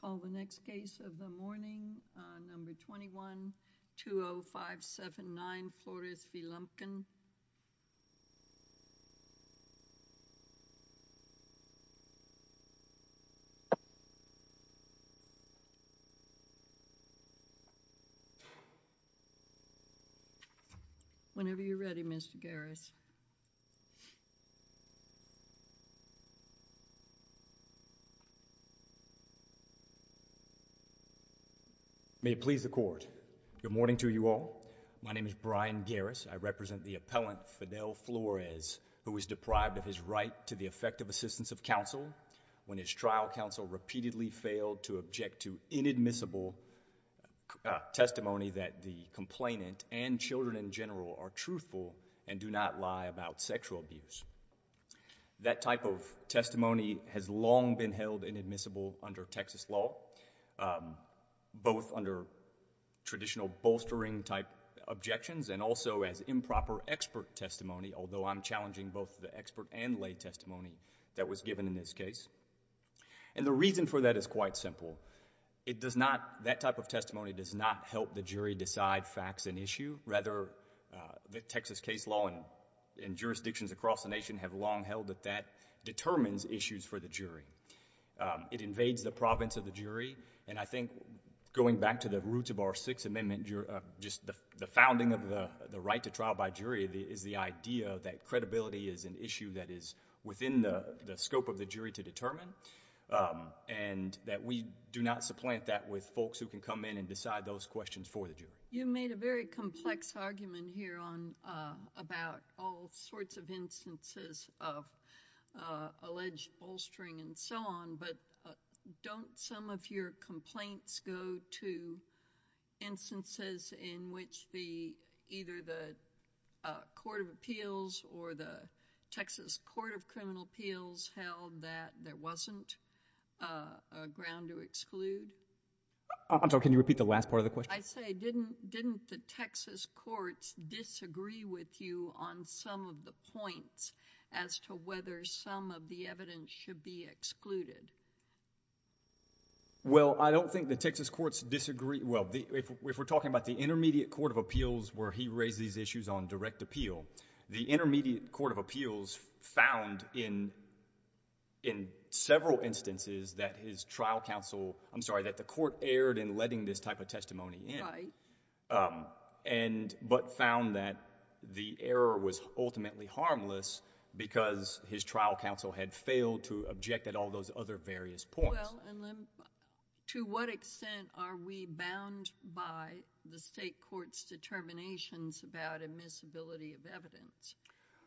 Call the next case of the morning, number 21-20579, Flores v. Lumpkin. Whenever you're ready, Mr. Garris. May it please the court, good morning to you all. My name is Brian Garris. I represent the appellant Fidel Flores who was deprived of his right to the effective assistance of counsel when his trial counsel repeatedly failed to object to inadmissible testimony that the complainant and children in general are truthful and do not lie about sexual abuse. That type of testimony has long been held inadmissible under Texas law, both under traditional bolstering type objections and also as improper expert testimony, although I'm challenging both the expert and lay testimony that was given in this case. And the reason for that is quite simple. It does not, that type of testimony does not help the jury decide facts and issue. Rather, the Texas case law and jurisdictions across the nation have long held that that determines issues for the jury. It invades the province of the jury, and I think going back to the roots of our Sixth Amendment, just the founding of the right to trial by jury is the idea that credibility is an issue that is within the scope of the jury to determine, and that we do not supplant that with folks who can come in and decide those questions for the jury. You made a very complex argument here on, about all sorts of instances of alleged bolstering and so on, but don't some of your complaints go to instances in which the, either the Court of Appeals or the Texas Court of Criminal Appeals held that there wasn't a ground to exclude? I'm sorry, can you repeat the last part of the question? I say, didn't the Texas courts disagree with you on some of the points as to whether some of the evidence should be excluded? Well, I don't think the Texas courts disagree. Well, if we're talking about the Intermediate Court of Appeals where he raised these issues on direct appeal, the Intermediate Court of Appeals found in several instances that his trial counsel, I'm sorry, that the court erred in letting this type of testimony in. Right. But found that the error was ultimately harmless because his trial counsel had failed to object at all those other various points. Well, and then to what extent are we bound by the state court's determinations about admissibility of evidence?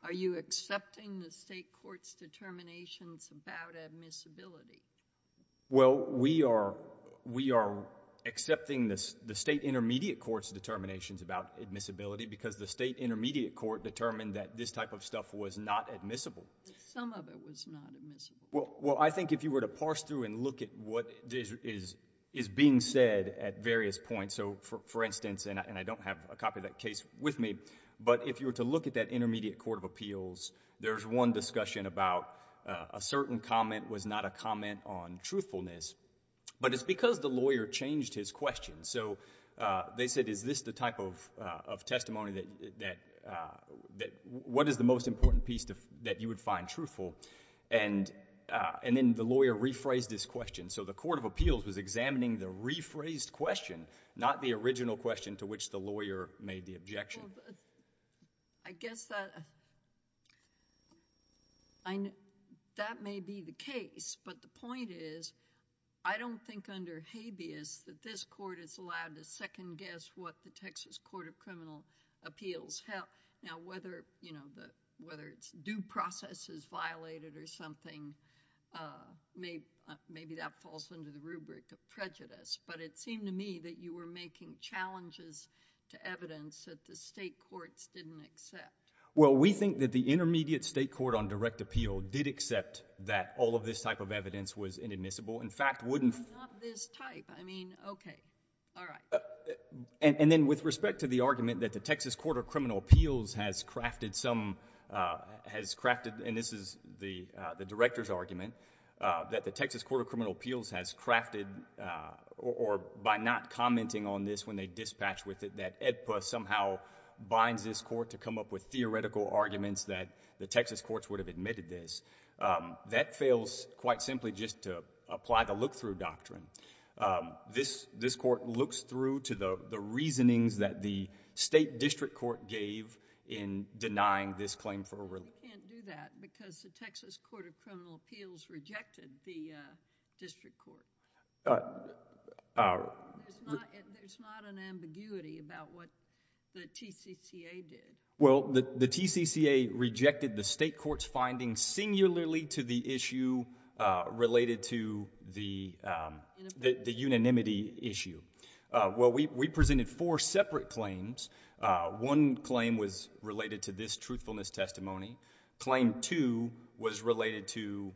Are you accepting the state court's determinations about admissibility? Well, we are accepting the state intermediate court's determinations about admissibility because the state intermediate court determined that this type of stuff was not admissible. Some of it was not admissible. Well, I think if you were to parse through and look at what is being said at various points, so for instance, and I don't have a copy of that case with me, but if you were to look at that Intermediate Court of Appeals, there's one discussion about a certain comment was not a comment on truthfulness, but it's because the lawyer changed his question. So they said, is this the type of testimony that what is the most important piece that you would find truthful? And then the lawyer rephrased his question. So the Court of Appeals was examining the rephrased question, not the original question to which the lawyer made the objection. I guess that may be the case, but the point is I don't think under habeas that this court is allowed to second guess what the Texas Court of Criminal Appeals held. Now, whether it's due process is violated or something, maybe that falls under the rubric of prejudice. But it seemed to me that you were making challenges to evidence that the state courts didn't accept. Well, we think that the Intermediate State Court on Direct Appeal did accept that all of this type of evidence was inadmissible. In fact, wouldn't… Not this type. I mean, okay. All right. And then with respect to the argument that the Texas Court of Criminal Appeals has crafted some, has crafted, and this is the director's argument, that the Texas Court of Criminal Appeals has crafted, or by not commenting on this when they dispatch with it, that AEDPA somehow binds this court to come up with theoretical arguments that the Texas courts would have admitted this, that fails quite simply just to apply the look-through doctrine. This court looks through to the reasonings that the state district court gave in denying this claim for… You can't do that because the Texas Court of Criminal Appeals rejected the district court. There's not an ambiguity about what the TCCA did. Well, the TCCA rejected the state court's findings singularly to the issue related to the unanimity issue. Well, we presented four separate claims. One claim was related to this truthfulness testimony. Claim two was related to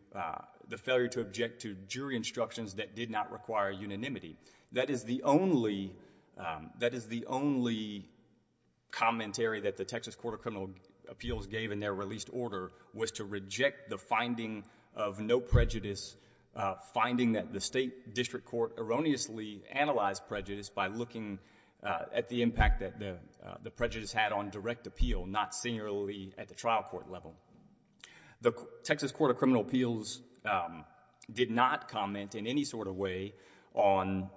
the failure to object to jury instructions that did not require unanimity. That is the only, that is the only commentary that the Texas Court of Criminal Appeals gave in their released order was to reject the finding of no prejudice, finding that the state district court erroneously analyzed prejudice by looking at the impact that the prejudice had on direct appeal, not singularly at the trial court level. The Texas Court of Criminal Appeals did not comment in any sort of way on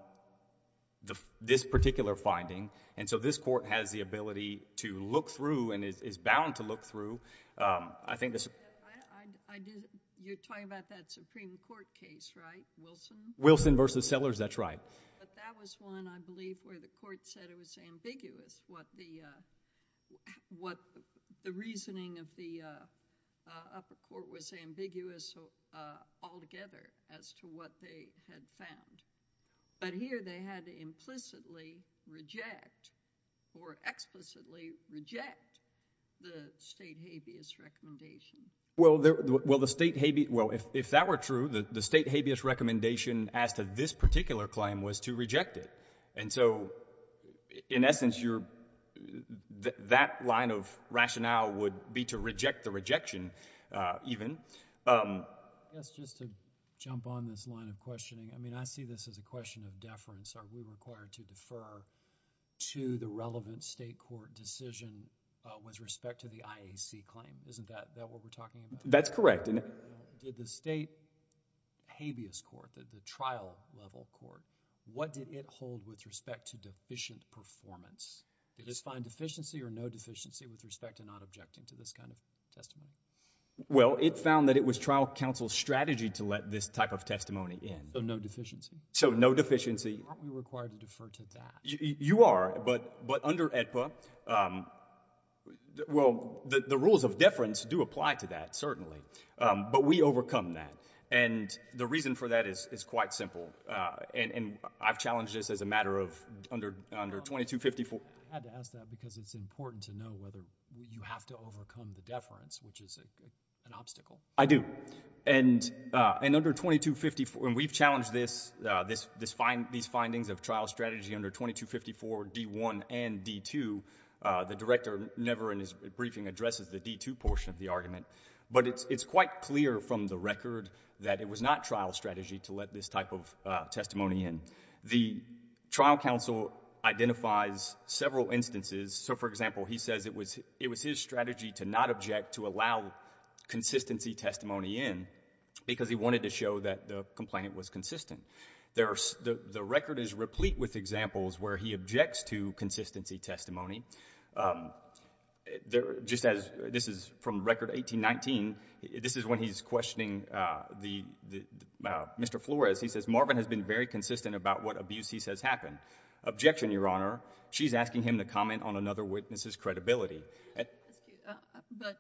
this particular finding. And so this court has the ability to look through and is bound to look through. I think this… You're talking about that Supreme Court case, right? Wilson? Wilson v. Sellers, that's right. But that was one, I believe, where the court said it was ambiguous what the reasoning of the upper court was ambiguous altogether as to what they had found. But here they had implicitly reject or explicitly reject the state habeas recommendation. Well, if that were true, the state habeas recommendation as to this particular claim was to reject it. And so, in essence, that line of rationale would be to reject the rejection even. I guess just to jump on this line of questioning, I mean, I see this as a question of deference. Are we required to defer to the relevant state court decision with respect to the IAC claim? Isn't that what we're talking about? That's correct. Did the state habeas court, the trial level court, what did it hold with respect to deficient performance? Did it find deficiency or no deficiency with respect to not objecting to this kind of testimony? Well, it found that it was trial counsel's strategy to let this type of testimony in. So no deficiency? So no deficiency. Aren't we required to defer to that? You are. But under AEDPA, well, the rules of deference do apply to that, certainly. But we overcome that. And the reason for that is quite simple. And I've challenged this as a matter of under 2254. I had to ask that because it's important to know whether you have to overcome the deference, which is an obstacle. I do. And under 2254, and we've challenged this, these findings of trial strategy under 2254 D.1 and D.2. The director never in his briefing addresses the D.2 portion of the argument. But it's quite clear from the record that it was not trial strategy to let this type of testimony in. The trial counsel identifies several instances. So, for example, he says it was his strategy to not object, to allow consistency testimony in, because he wanted to show that the complaint was consistent. The record is replete with examples where he objects to consistency testimony. Just as this is from Record 1819, this is when he's questioning Mr. Flores. He says, Marvin has been very consistent about what abuse he says happened. Objection, Your Honor. She's asking him to comment on another witness's credibility. But,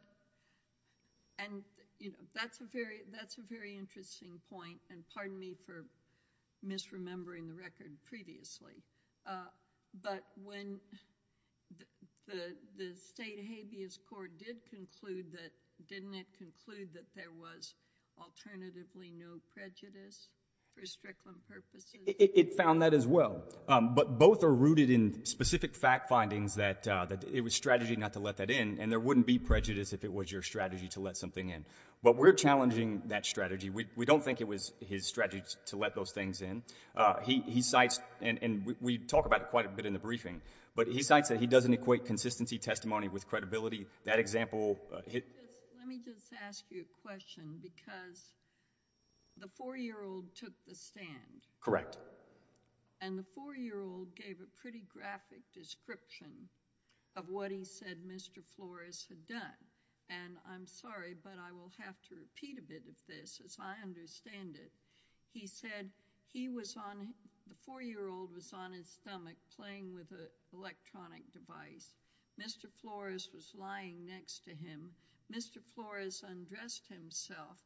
and, you know, that's a very interesting point, and pardon me for misremembering the record previously. But when the state habeas court did conclude that, didn't it conclude that there was alternatively no prejudice for stricter purposes? It found that as well. But both are rooted in specific fact findings that it was strategy not to let that in, and there wouldn't be prejudice if it was your strategy to let something in. But we're challenging that strategy. We don't think it was his strategy to let those things in. He cites, and we talk about it quite a bit in the briefing, but he cites that he doesn't equate consistency testimony with credibility. That example hit. Let me just ask you a question, because the 4-year-old took the stand. Correct. And the 4-year-old gave a pretty graphic description of what he said Mr. Flores had done. And I'm sorry, but I will have to repeat a bit of this as I understand it. He said he was on, the 4-year-old was on his stomach playing with an electronic device. Mr. Flores was lying next to him. Mr. Flores undressed himself,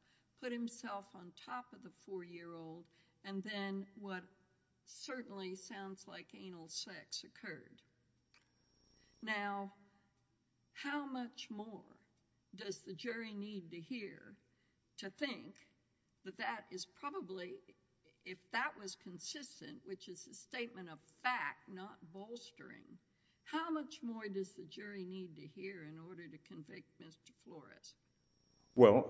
put himself on top of the 4-year-old, and then what certainly sounds like anal sex occurred. Now, how much more does the jury need to hear to think that that is probably, if that was consistent, which is a statement of fact, not bolstering, how much more does the jury need to hear in order to convict Mr. Flores? Well,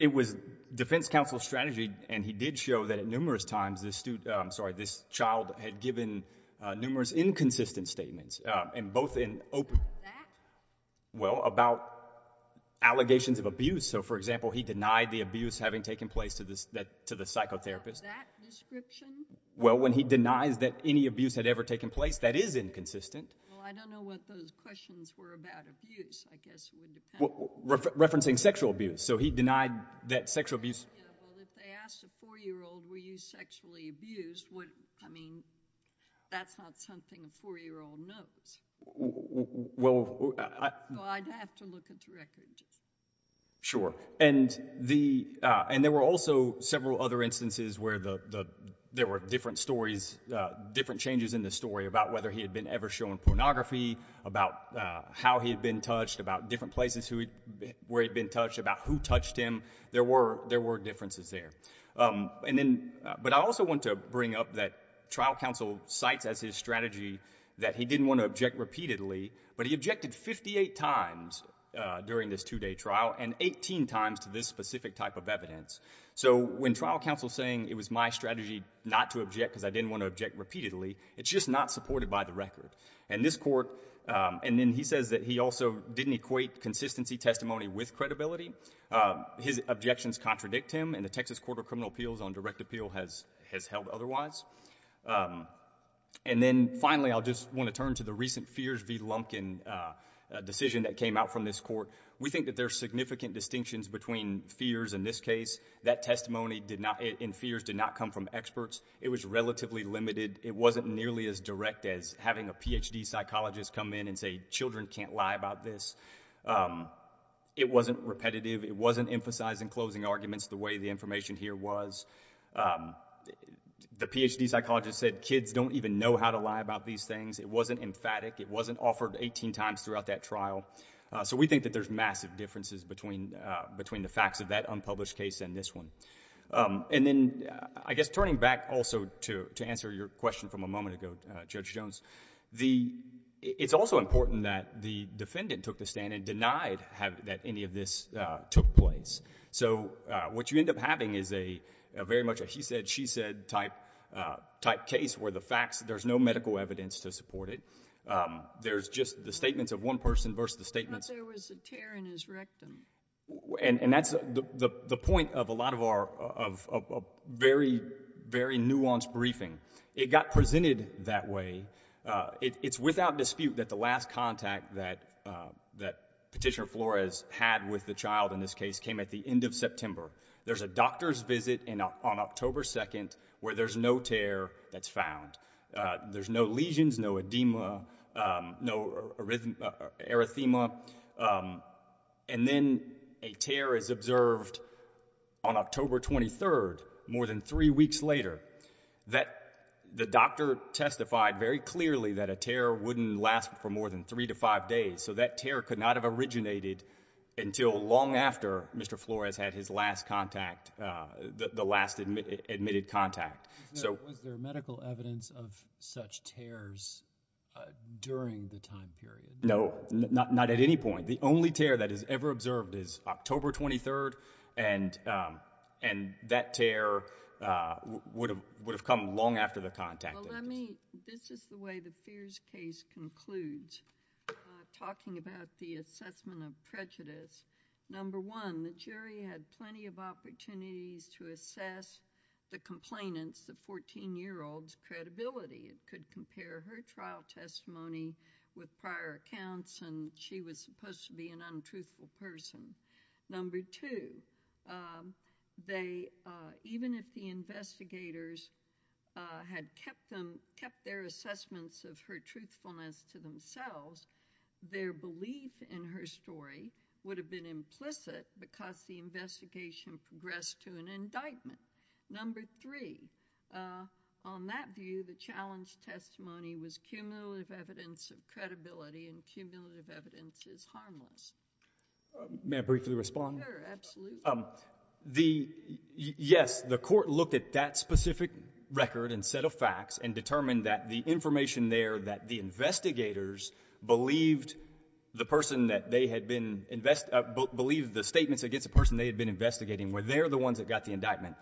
it was defense counsel's strategy, and he did show that numerous times this child had given numerous inconsistent statements, and both in open, well, about allegations of abuse. So, for example, he denied the abuse having taken place to the psychotherapist. About that description? Well, when he denies that any abuse had ever taken place, that is inconsistent. Well, I don't know what those questions were about abuse. I guess it would depend. Referencing sexual abuse. So he denied that sexual abuse. Yeah, well, if they asked a 4-year-old, were you sexually abused, I mean, that's not something a 4-year-old knows. Well, I'd have to look at the records. Sure. And there were also several other instances where there were different stories, different changes in the story about whether he had been ever shown pornography, about how he had been touched, about different places where he had been touched, about who touched him. There were differences there. But I also want to bring up that trial counsel cites as his strategy that he didn't want to object repeatedly, but he objected 58 times during this 2-day trial and 18 times to this specific type of evidence. So when trial counsel is saying it was my strategy not to object because I didn't want to object repeatedly, it's just not supported by the record. And then he says that he also didn't equate consistency testimony with credibility. His objections contradict him, and the Texas Court of Criminal Appeals on direct appeal has held otherwise. And then finally, I just want to turn to the recent Fears v. Lumpkin decision that came out from this court. We think that there are significant distinctions between Fears in this case. That testimony in Fears did not come from experts. It was relatively limited. It wasn't nearly as direct as having a Ph.D. psychologist come in and say children can't lie about this. It wasn't repetitive. It wasn't emphasizing closing arguments the way the information here was. The Ph.D. psychologist said kids don't even know how to lie about these things. It wasn't emphatic. It wasn't offered 18 times throughout that trial. So we think that there's massive differences between the facts of that unpublished case and this one. And then I guess turning back also to answer your question from a moment ago, Judge Jones, it's also important that the defendant took the stand and denied that any of this took place. So what you end up having is very much a he said, she said type case where the facts, there's no medical evidence to support it. There's just the statements of one person versus the statements. I thought there was a tear in his rectum. And that's the point of a lot of our very, very nuanced briefing. It got presented that way. It's without dispute that the last contact that Petitioner Flores had with the child in this case came at the end of September. There's a doctor's visit on October 2nd where there's no tear that's found. There's no lesions, no edema, no erythema. And then a tear is observed on October 23rd, more than three weeks later, that the doctor testified very clearly that a tear wouldn't last for more than three to five days. So that tear could not have originated until long after Mr. Flores had his last contact, the last admitted contact. Was there medical evidence of such tears during the time period? No, not at any point. The only tear that is ever observed is October 23rd, and that tear would have come long after the contact. This is the way the Fears case concludes, talking about the assessment of prejudice. Number one, the jury had plenty of opportunities to assess the complainant's, the 14-year-old's, credibility. It could compare her trial testimony with prior accounts, and she was supposed to be an untruthful person. Number two, even if the investigators had kept their assessments of her truthfulness to themselves, their belief in her story would have been implicit because the investigation progressed to an indictment. Number three, on that view, the challenge testimony was cumulative evidence of credibility, and cumulative evidence is harmless. May I briefly respond? Sure, absolutely. Yes, the court looked at that specific record and set of facts and determined that the information there that the investigators believed the person that they had been, believed the statements against the person they had been investigating, where they're the ones that got the indictment,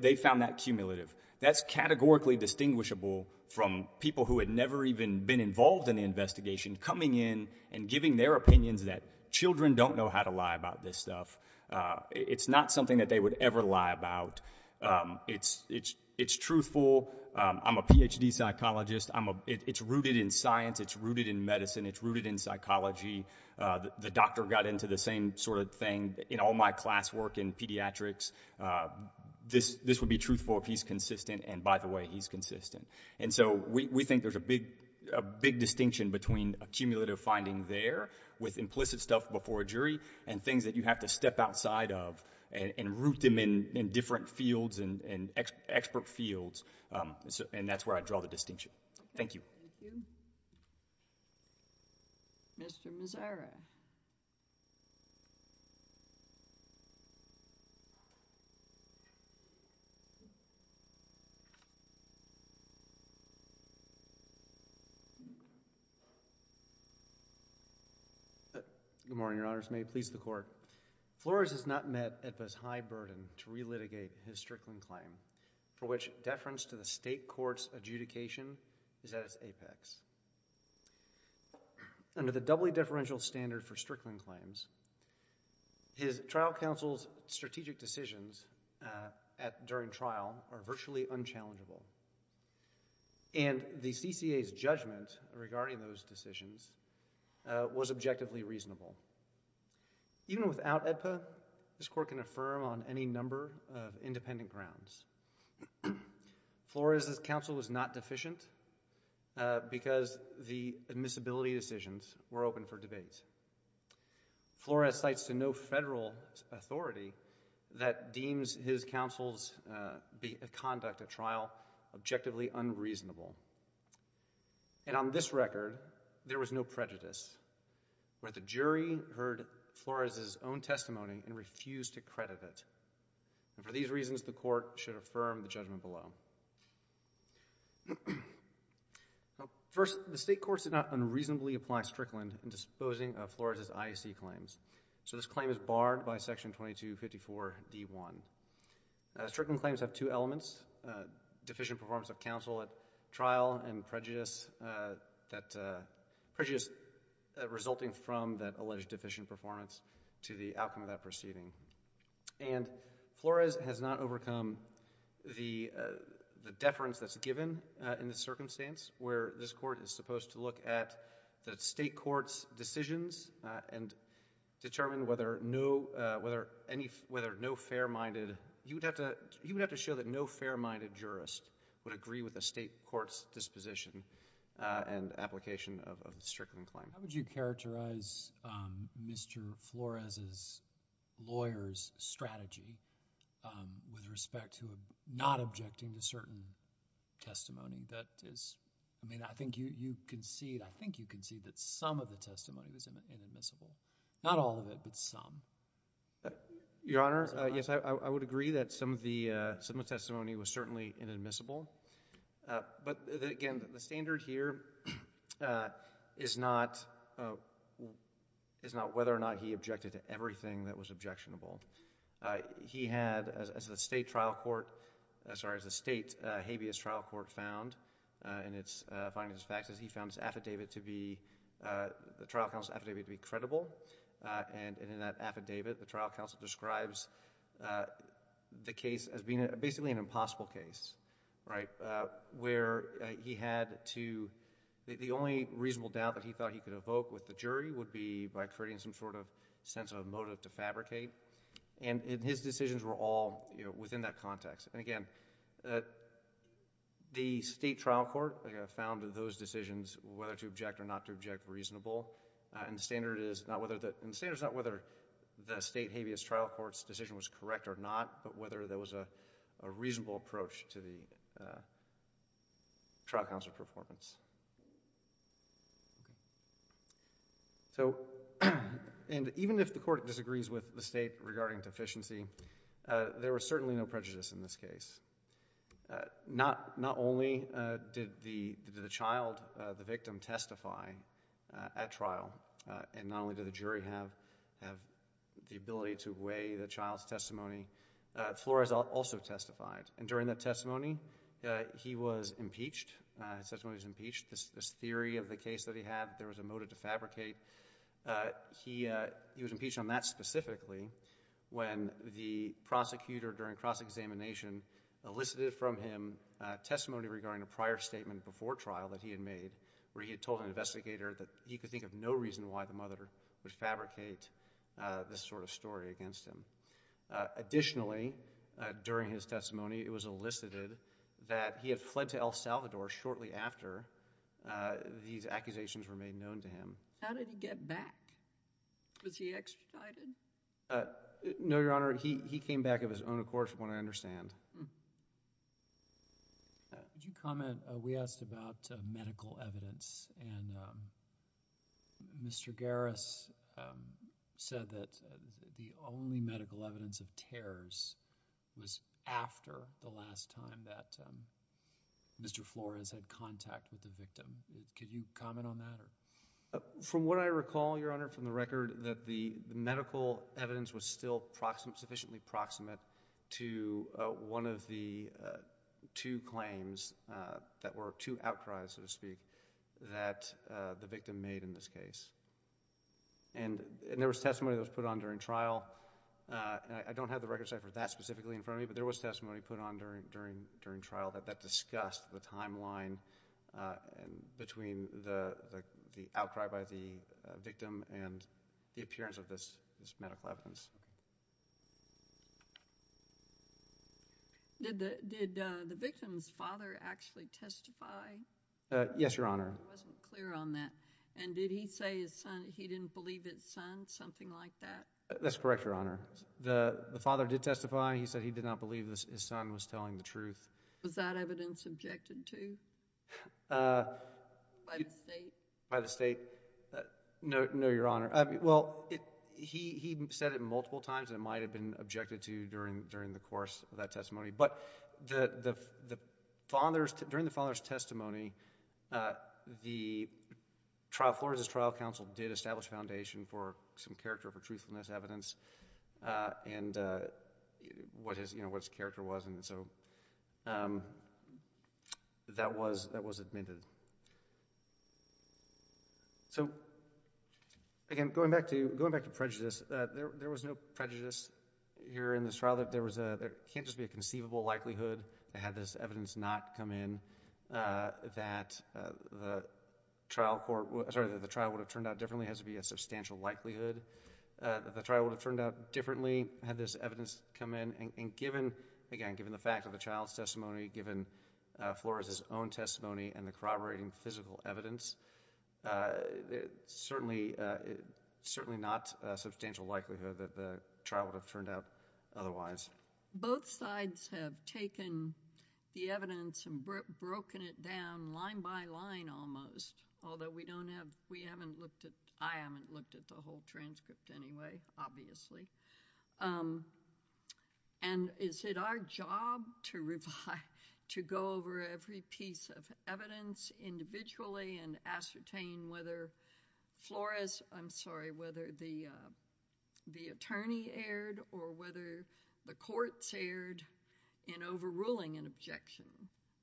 they found that cumulative. That's categorically distinguishable from people who had never even been involved in the investigation coming in and giving their opinions that children don't know how to lie about this stuff. It's not something that they would ever lie about. It's truthful. I'm a Ph.D. psychologist. It's rooted in science. It's rooted in medicine. It's rooted in psychology. The doctor got into the same sort of thing in all my class work in pediatrics. This would be truthful if he's consistent, and by the way, he's consistent. And so we think there's a big distinction between a cumulative finding there with implicit stuff before a jury and things that you have to step outside of and root them in different fields and expert fields, and that's where I draw the distinction. Thank you. Thank you. Mr. Mazzara. Good morning, Your Honors. May it please the Court. Flores has not met EBBA's high burden to relitigate his Strickland claim for which deference to the state court's adjudication is at its apex. Under the doubly deferential standard for Strickland claims, his trial counsel's strategic decisions during trial are virtually unchallengeable, and the CCA's judgment regarding those decisions was objectively reasonable. Even without EBBA, this Court can affirm on any number of independent grounds. Flores' counsel was not deficient because the admissibility decisions were open for debate. Flores cites to no federal authority that deems his counsel's conduct at trial objectively unreasonable, and on this record, there was no prejudice where the jury heard Flores' own testimony and refused to credit it. For these reasons, the Court should affirm the judgment below. First, the state courts did not unreasonably apply Strickland in disposing of Flores' IAC claims, so this claim is barred by Section 2254d1. Strickland claims have two elements, deficient performance of counsel at trial and prejudice resulting from that alleged deficient performance to the outcome of that proceeding. And Flores has not overcome the deference that's given in this circumstance where this Court is supposed to look at the state court's decisions and determine whether no fair-minded— How would you characterize Mr. Flores' lawyer's strategy with respect to not objecting to certain testimony that is— I mean, I think you concede that some of the testimony was inadmissible. Not all of it, but some. Your Honor, yes, I would agree that some of the testimony was certainly inadmissible, but, again, the standard here is not whether or not he objected to everything that was objectionable. He had, as the state trial court— Sorry, as the state habeas trial court found in its findings and facts, he found his affidavit to be—the trial counsel's affidavit to be credible, and in that affidavit, the trial counsel describes the case as being basically an impossible case. Where he had to— The only reasonable doubt that he thought he could evoke with the jury would be by creating some sort of sense of motive to fabricate, and his decisions were all within that context. And, again, the state trial court found those decisions, whether to object or not to object, reasonable, and the standard is not whether the state habeas trial court's decision was correct or not, but whether there was a reasonable approach to the trial counsel's performance. So, and even if the court disagrees with the state regarding deficiency, there was certainly no prejudice in this case. Not only did the child, the victim, testify at trial, and not only did the jury have the ability to weigh the child's testimony, Flores also testified, and during that testimony, he was impeached. His testimony was impeached. This theory of the case that he had that there was a motive to fabricate, he was impeached on that specifically when the prosecutor during cross-examination elicited from him testimony regarding a prior statement before trial that he had made where he had told an investigator that he could think of no reason why the mother would fabricate this sort of story against him. Additionally, during his testimony, it was elicited that he had fled to El Salvador shortly after these accusations were made known to him. How did he get back? Was he extradited? No, Your Honor, he came back of his own accord from what I understand. Could you comment? We asked about medical evidence, and Mr. Garris said that the only medical evidence of tears was after the last time that Mr. Flores had contact with the victim. Could you comment on that? From what I recall, Your Honor, from the record, that the medical evidence was still sufficiently proximate to one of the two claims that were two outcries, so to speak, that the victim made in this case. And there was testimony that was put on during trial. I don't have the record set for that specifically in front of me, but there was testimony put on during trial that discussed the timeline between the outcry by the victim and the appearance of this medical evidence. Did the victim's father actually testify? Yes, Your Honor. I wasn't clear on that. And did he say he didn't believe his son, something like that? That's correct, Your Honor. The father did testify. He said he did not believe his son was telling the truth. Was that evidence objected to by the state? By the state? No, Your Honor. Well, he said it multiple times, and it might have been objected to during the course of that testimony. But during the father's testimony, Flores' trial counsel did establish a foundation for some character of truthfulness evidence and what his character was. And so that was admitted. So again, going back to prejudice, there was no prejudice here in this trial. There can't just be a conceivable likelihood that had this evidence not come in that the trial would have turned out differently. It has to be a substantial likelihood that the trial would have turned out differently had this evidence come in. And again, given the fact of the child's testimony, given Flores' own testimony and the corroborating physical evidence, it's certainly not a substantial likelihood that the trial would have turned out otherwise. Both sides have taken the evidence and broken it down line by line almost, although I haven't looked at the whole transcript anyway, obviously. And is it our job to go over every piece of evidence individually and ascertain whether the attorney erred or whether the courts erred in overruling an objection?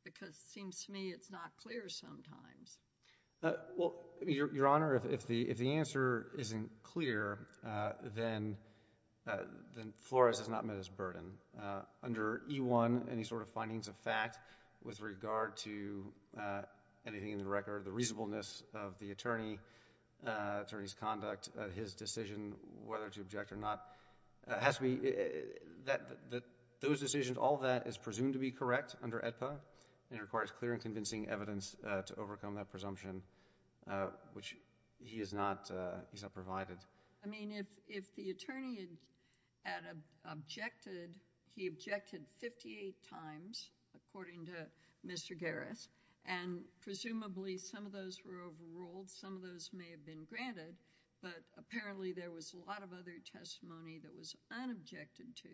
Because it seems to me it's not clear sometimes. Well, Your Honor, if the answer isn't clear, then Flores has not met his burden. Under E-1, any sort of findings of fact with regard to anything in the record, the reasonableness of the attorney's conduct, his decision whether to object or not, those decisions, all of that is presumed to be correct under AEDPA and requires clear and convincing evidence to overcome that presumption, which he has not provided. I mean, if the attorney had objected, he objected 58 times, according to Mr. Garris, and presumably some of those were overruled, some of those may have been granted, but apparently there was a lot of other testimony that was unobjected to.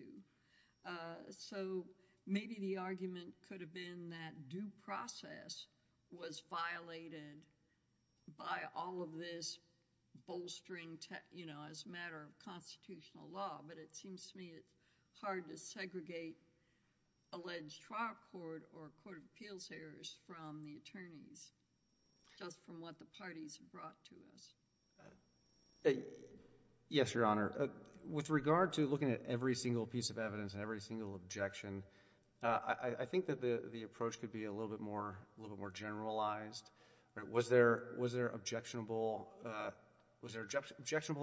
So maybe the argument could have been that due process was violated by all of this bolstering as a matter of constitutional law, but it seems to me it's hard to segregate alleged trial court or court of appeals errors from the attorneys, just from what the parties have brought to us. Yes, Your Honor. With regard to looking at every single piece of evidence and every single objection, I think that the approach could be a little bit more generalized. Was there objectionable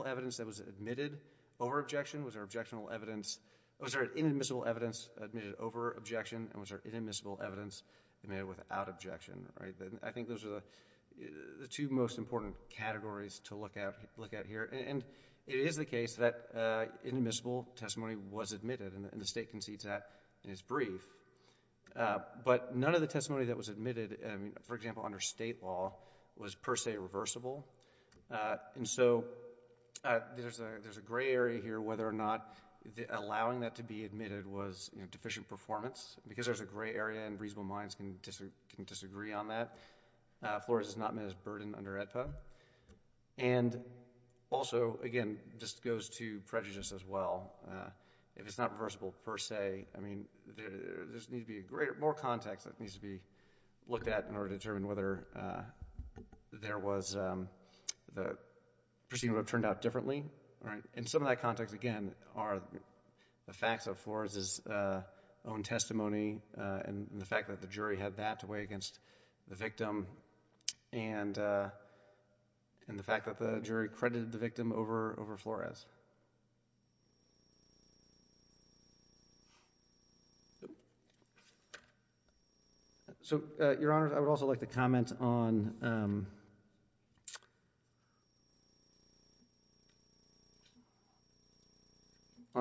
evidence that was admitted over objection? Was there inadmissible evidence admitted over objection? And was there inadmissible evidence admitted without objection? I think those are the two most important categories to look at here. And it is the case that inadmissible testimony was admitted, and the State concedes that in its brief. But none of the testimony that was admitted, for example, under State law, was per se reversible. And so there's a gray area here whether or not allowing that to be admitted was deficient performance. Because there's a gray area and reasonable minds can disagree on that, FLORES has not met its burden under AEDPA. And also, again, this goes to prejudice as well. If it's not reversible per se, I mean, there needs to be more context that needs to be looked at in order to determine whether the proceeding would have turned out differently. And some of that context, again, are the facts of FLORES' own testimony and the fact that the jury had that to weigh against the victim and the fact that the jury credited the victim over FLORES. So, Your Honor, I would also like to comment on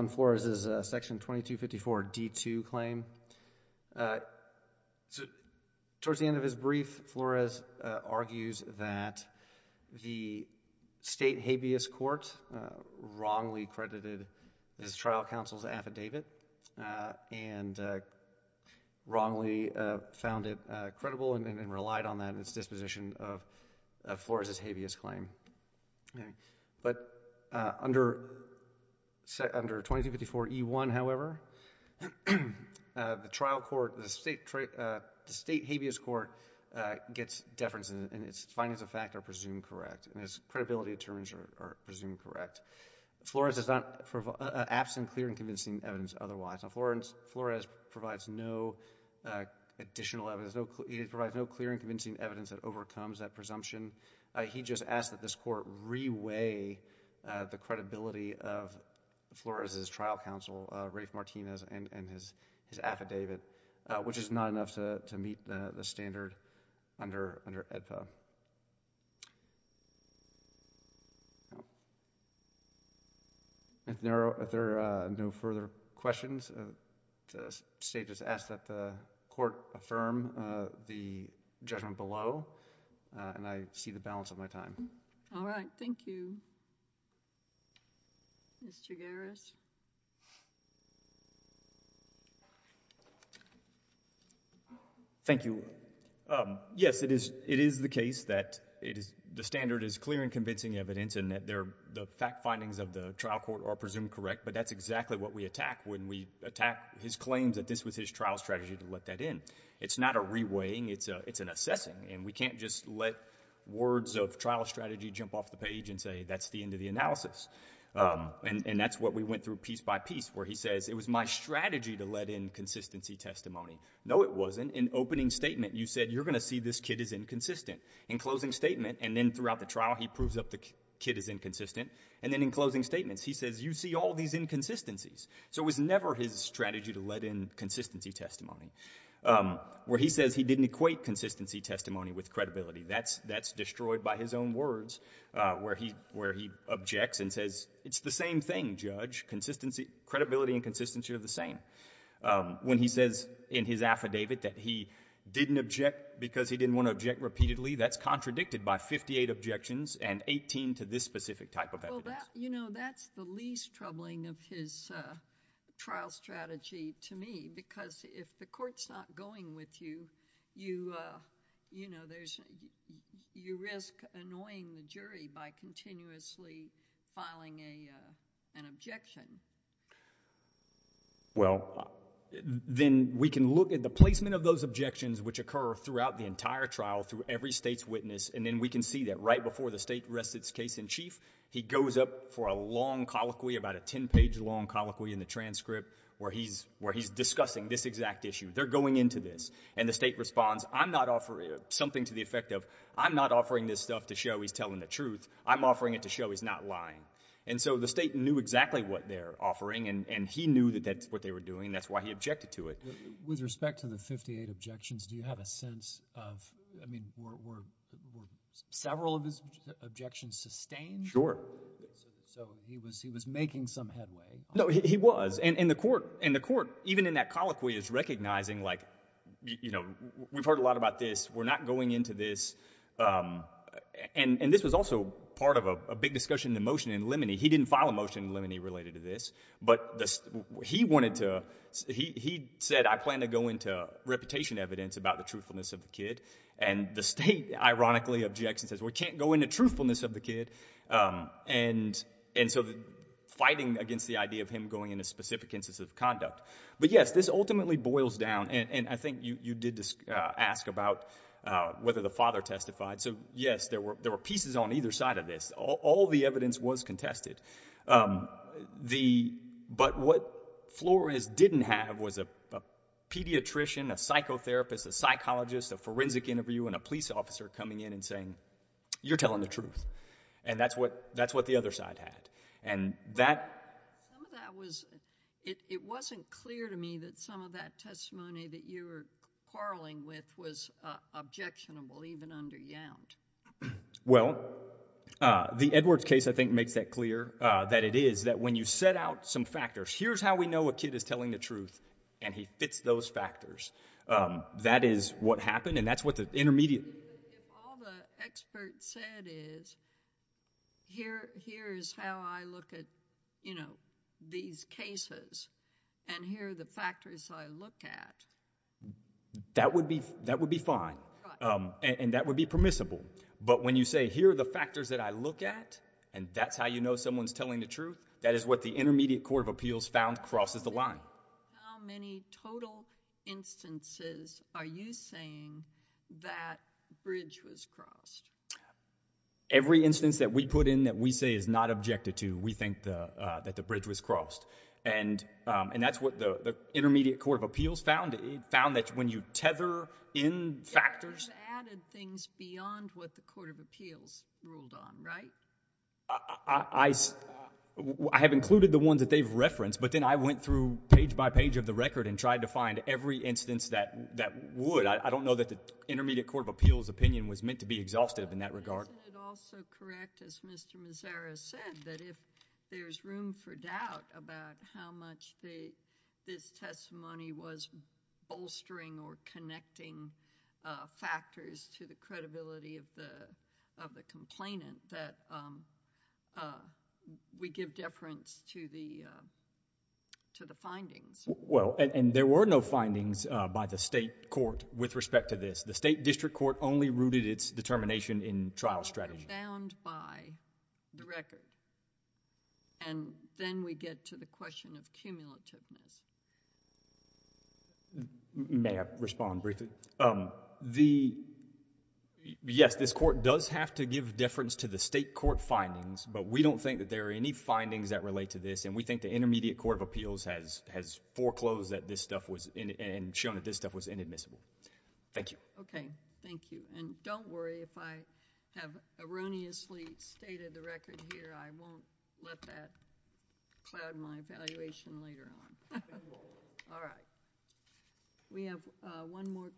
FLORES' Section 2254D2 claim. Towards the end of his brief, FLORES argues that the State habeas court wrongly credited his trial counsel's affidavit and wrongly found it credible and then relied on that in its disposition of FLORES' habeas claim. But under 2254E1, however, the trial court, the State habeas court, gets deference in its findings of fact are presumed correct and its credibility determines are presumed correct. FLORES is not absent clear and convincing evidence otherwise. FLORES provides no additional evidence. It provides no clear and convincing evidence that overcomes that presumption. He just asked that this court re-weigh the credibility of FLORES' trial counsel, Rafe Martinez, and his affidavit, which is not enough to meet the standard under AEDPA. If there are no further questions, the State just asks that the court affirm the judgment below and I see the balance of my time. All right. Thank you. Mr. Garris? Thank you. Yes, it is the case that the standard is clear and convincing evidence and that the fact findings of the trial court are presumed correct, but that's exactly what we attack when we attack his claims that this was his trial strategy to let that in. It's not a re-weighing. It's an assessing. And we can't just let words of trial strategy jump off the page and say that's the end of the analysis. And that's what we went through piece by piece, where he says it was my strategy to let in consistency testimony. No, it wasn't. In opening statement, you said you're going to see this kid is inconsistent. In closing statement, and then throughout the trial, he proves that the kid is inconsistent. And then in closing statements, he says you see all these inconsistencies. So it was never his strategy to let in consistency testimony. Where he says he didn't equate consistency testimony with credibility, that's destroyed by his own words, where he objects and says it's the same thing, Judge. Credibility and consistency are the same. When he says in his affidavit that he didn't object because he didn't want to object repeatedly, that's contradicted by 58 objections and 18 to this specific type of evidence. Well, you know, that's the least troubling of his trial strategy to me because if the court's not going with you, you risk annoying the jury by continuously filing an objection. Well, then we can look at the placement of those objections which occur throughout the entire trial through every state's witness, and then we can see that right before the state rests its case in chief, he goes up for a long colloquy, about a 10-page long colloquy in the transcript, where he's discussing this exact issue. They're going into this. And the state responds, I'm not offering something to the effect of I'm not offering this stuff to show he's telling the truth. I'm offering it to show he's not lying. And so the state knew exactly what they're offering, and he knew that that's what they were doing, and that's why he objected to it. With respect to the 58 objections, do you have a sense of, I mean, were several of his objections sustained? Sure. So he was making some headway. No, he was. And the court, even in that colloquy, is recognizing, like, you know, we've heard a lot about this. We're not going into this. And this was also part of a big discussion in limine. He didn't file a motion in limine related to this. But he wanted to, he said, I plan to go into reputation evidence about the truthfulness of the kid. And the state, ironically, objects and says, We can't go into truthfulness of the kid. And so fighting against the idea of him going into specific instances of conduct. But, yes, this ultimately boils down, and I think you did ask about whether the father testified. So, yes, there were pieces on either side of this. All the evidence was contested. But what Flores didn't have was a pediatrician, a psychotherapist, a psychologist, a forensic interview, and a police officer coming in and saying, You're telling the truth. And that's what the other side had. Some of that was, it wasn't clear to me that some of that testimony that you were quarreling with was objectionable, even under Yount. Well, the Edwards case, I think, makes that clear, that it is that when you set out some factors, Here's how we know a kid is telling the truth, and he fits those factors. That is what happened, and that's what the intermediate... If all the experts said is, Here is how I look at, you know, these cases, and here are the factors I look at... That would be fine, and that would be permissible. But when you say, Here are the factors that I look at, and that's how you know someone's telling the truth, that is what the intermediate court of appeals found crosses the line. How many total instances are you saying that bridge was crossed? Every instance that we put in that we say is not objected to, we think that the bridge was crossed. And that's what the intermediate court of appeals found. It found that when you tether in factors... You've added things beyond what the court of appeals ruled on, right? I have included the ones that they've referenced, but then I went through page by page of the record and tried to find every instance that would. I don't know that the intermediate court of appeals opinion was meant to be exhaustive in that regard. Isn't it also correct, as Mr. Mazzara said, that if there's room for doubt about how much this testimony was bolstering or connecting factors to the credibility of the complainant, that we give deference to the findings? Well, and there were no findings by the state court with respect to this. The state district court only rooted its determination in trial strategy. That was found by the record. And then we get to the question of cumulativeness. May I respond briefly? Yes, this court does have to give deference to the state court findings, but we don't think that there are any findings that relate to this, and we think the intermediate court of appeals has foreclosed and shown that this stuff was inadmissible. Thank you. Okay, thank you. And don't worry if I have erroneously stated the record here. I won't let that cloud my evaluation later on. All right. We have one more.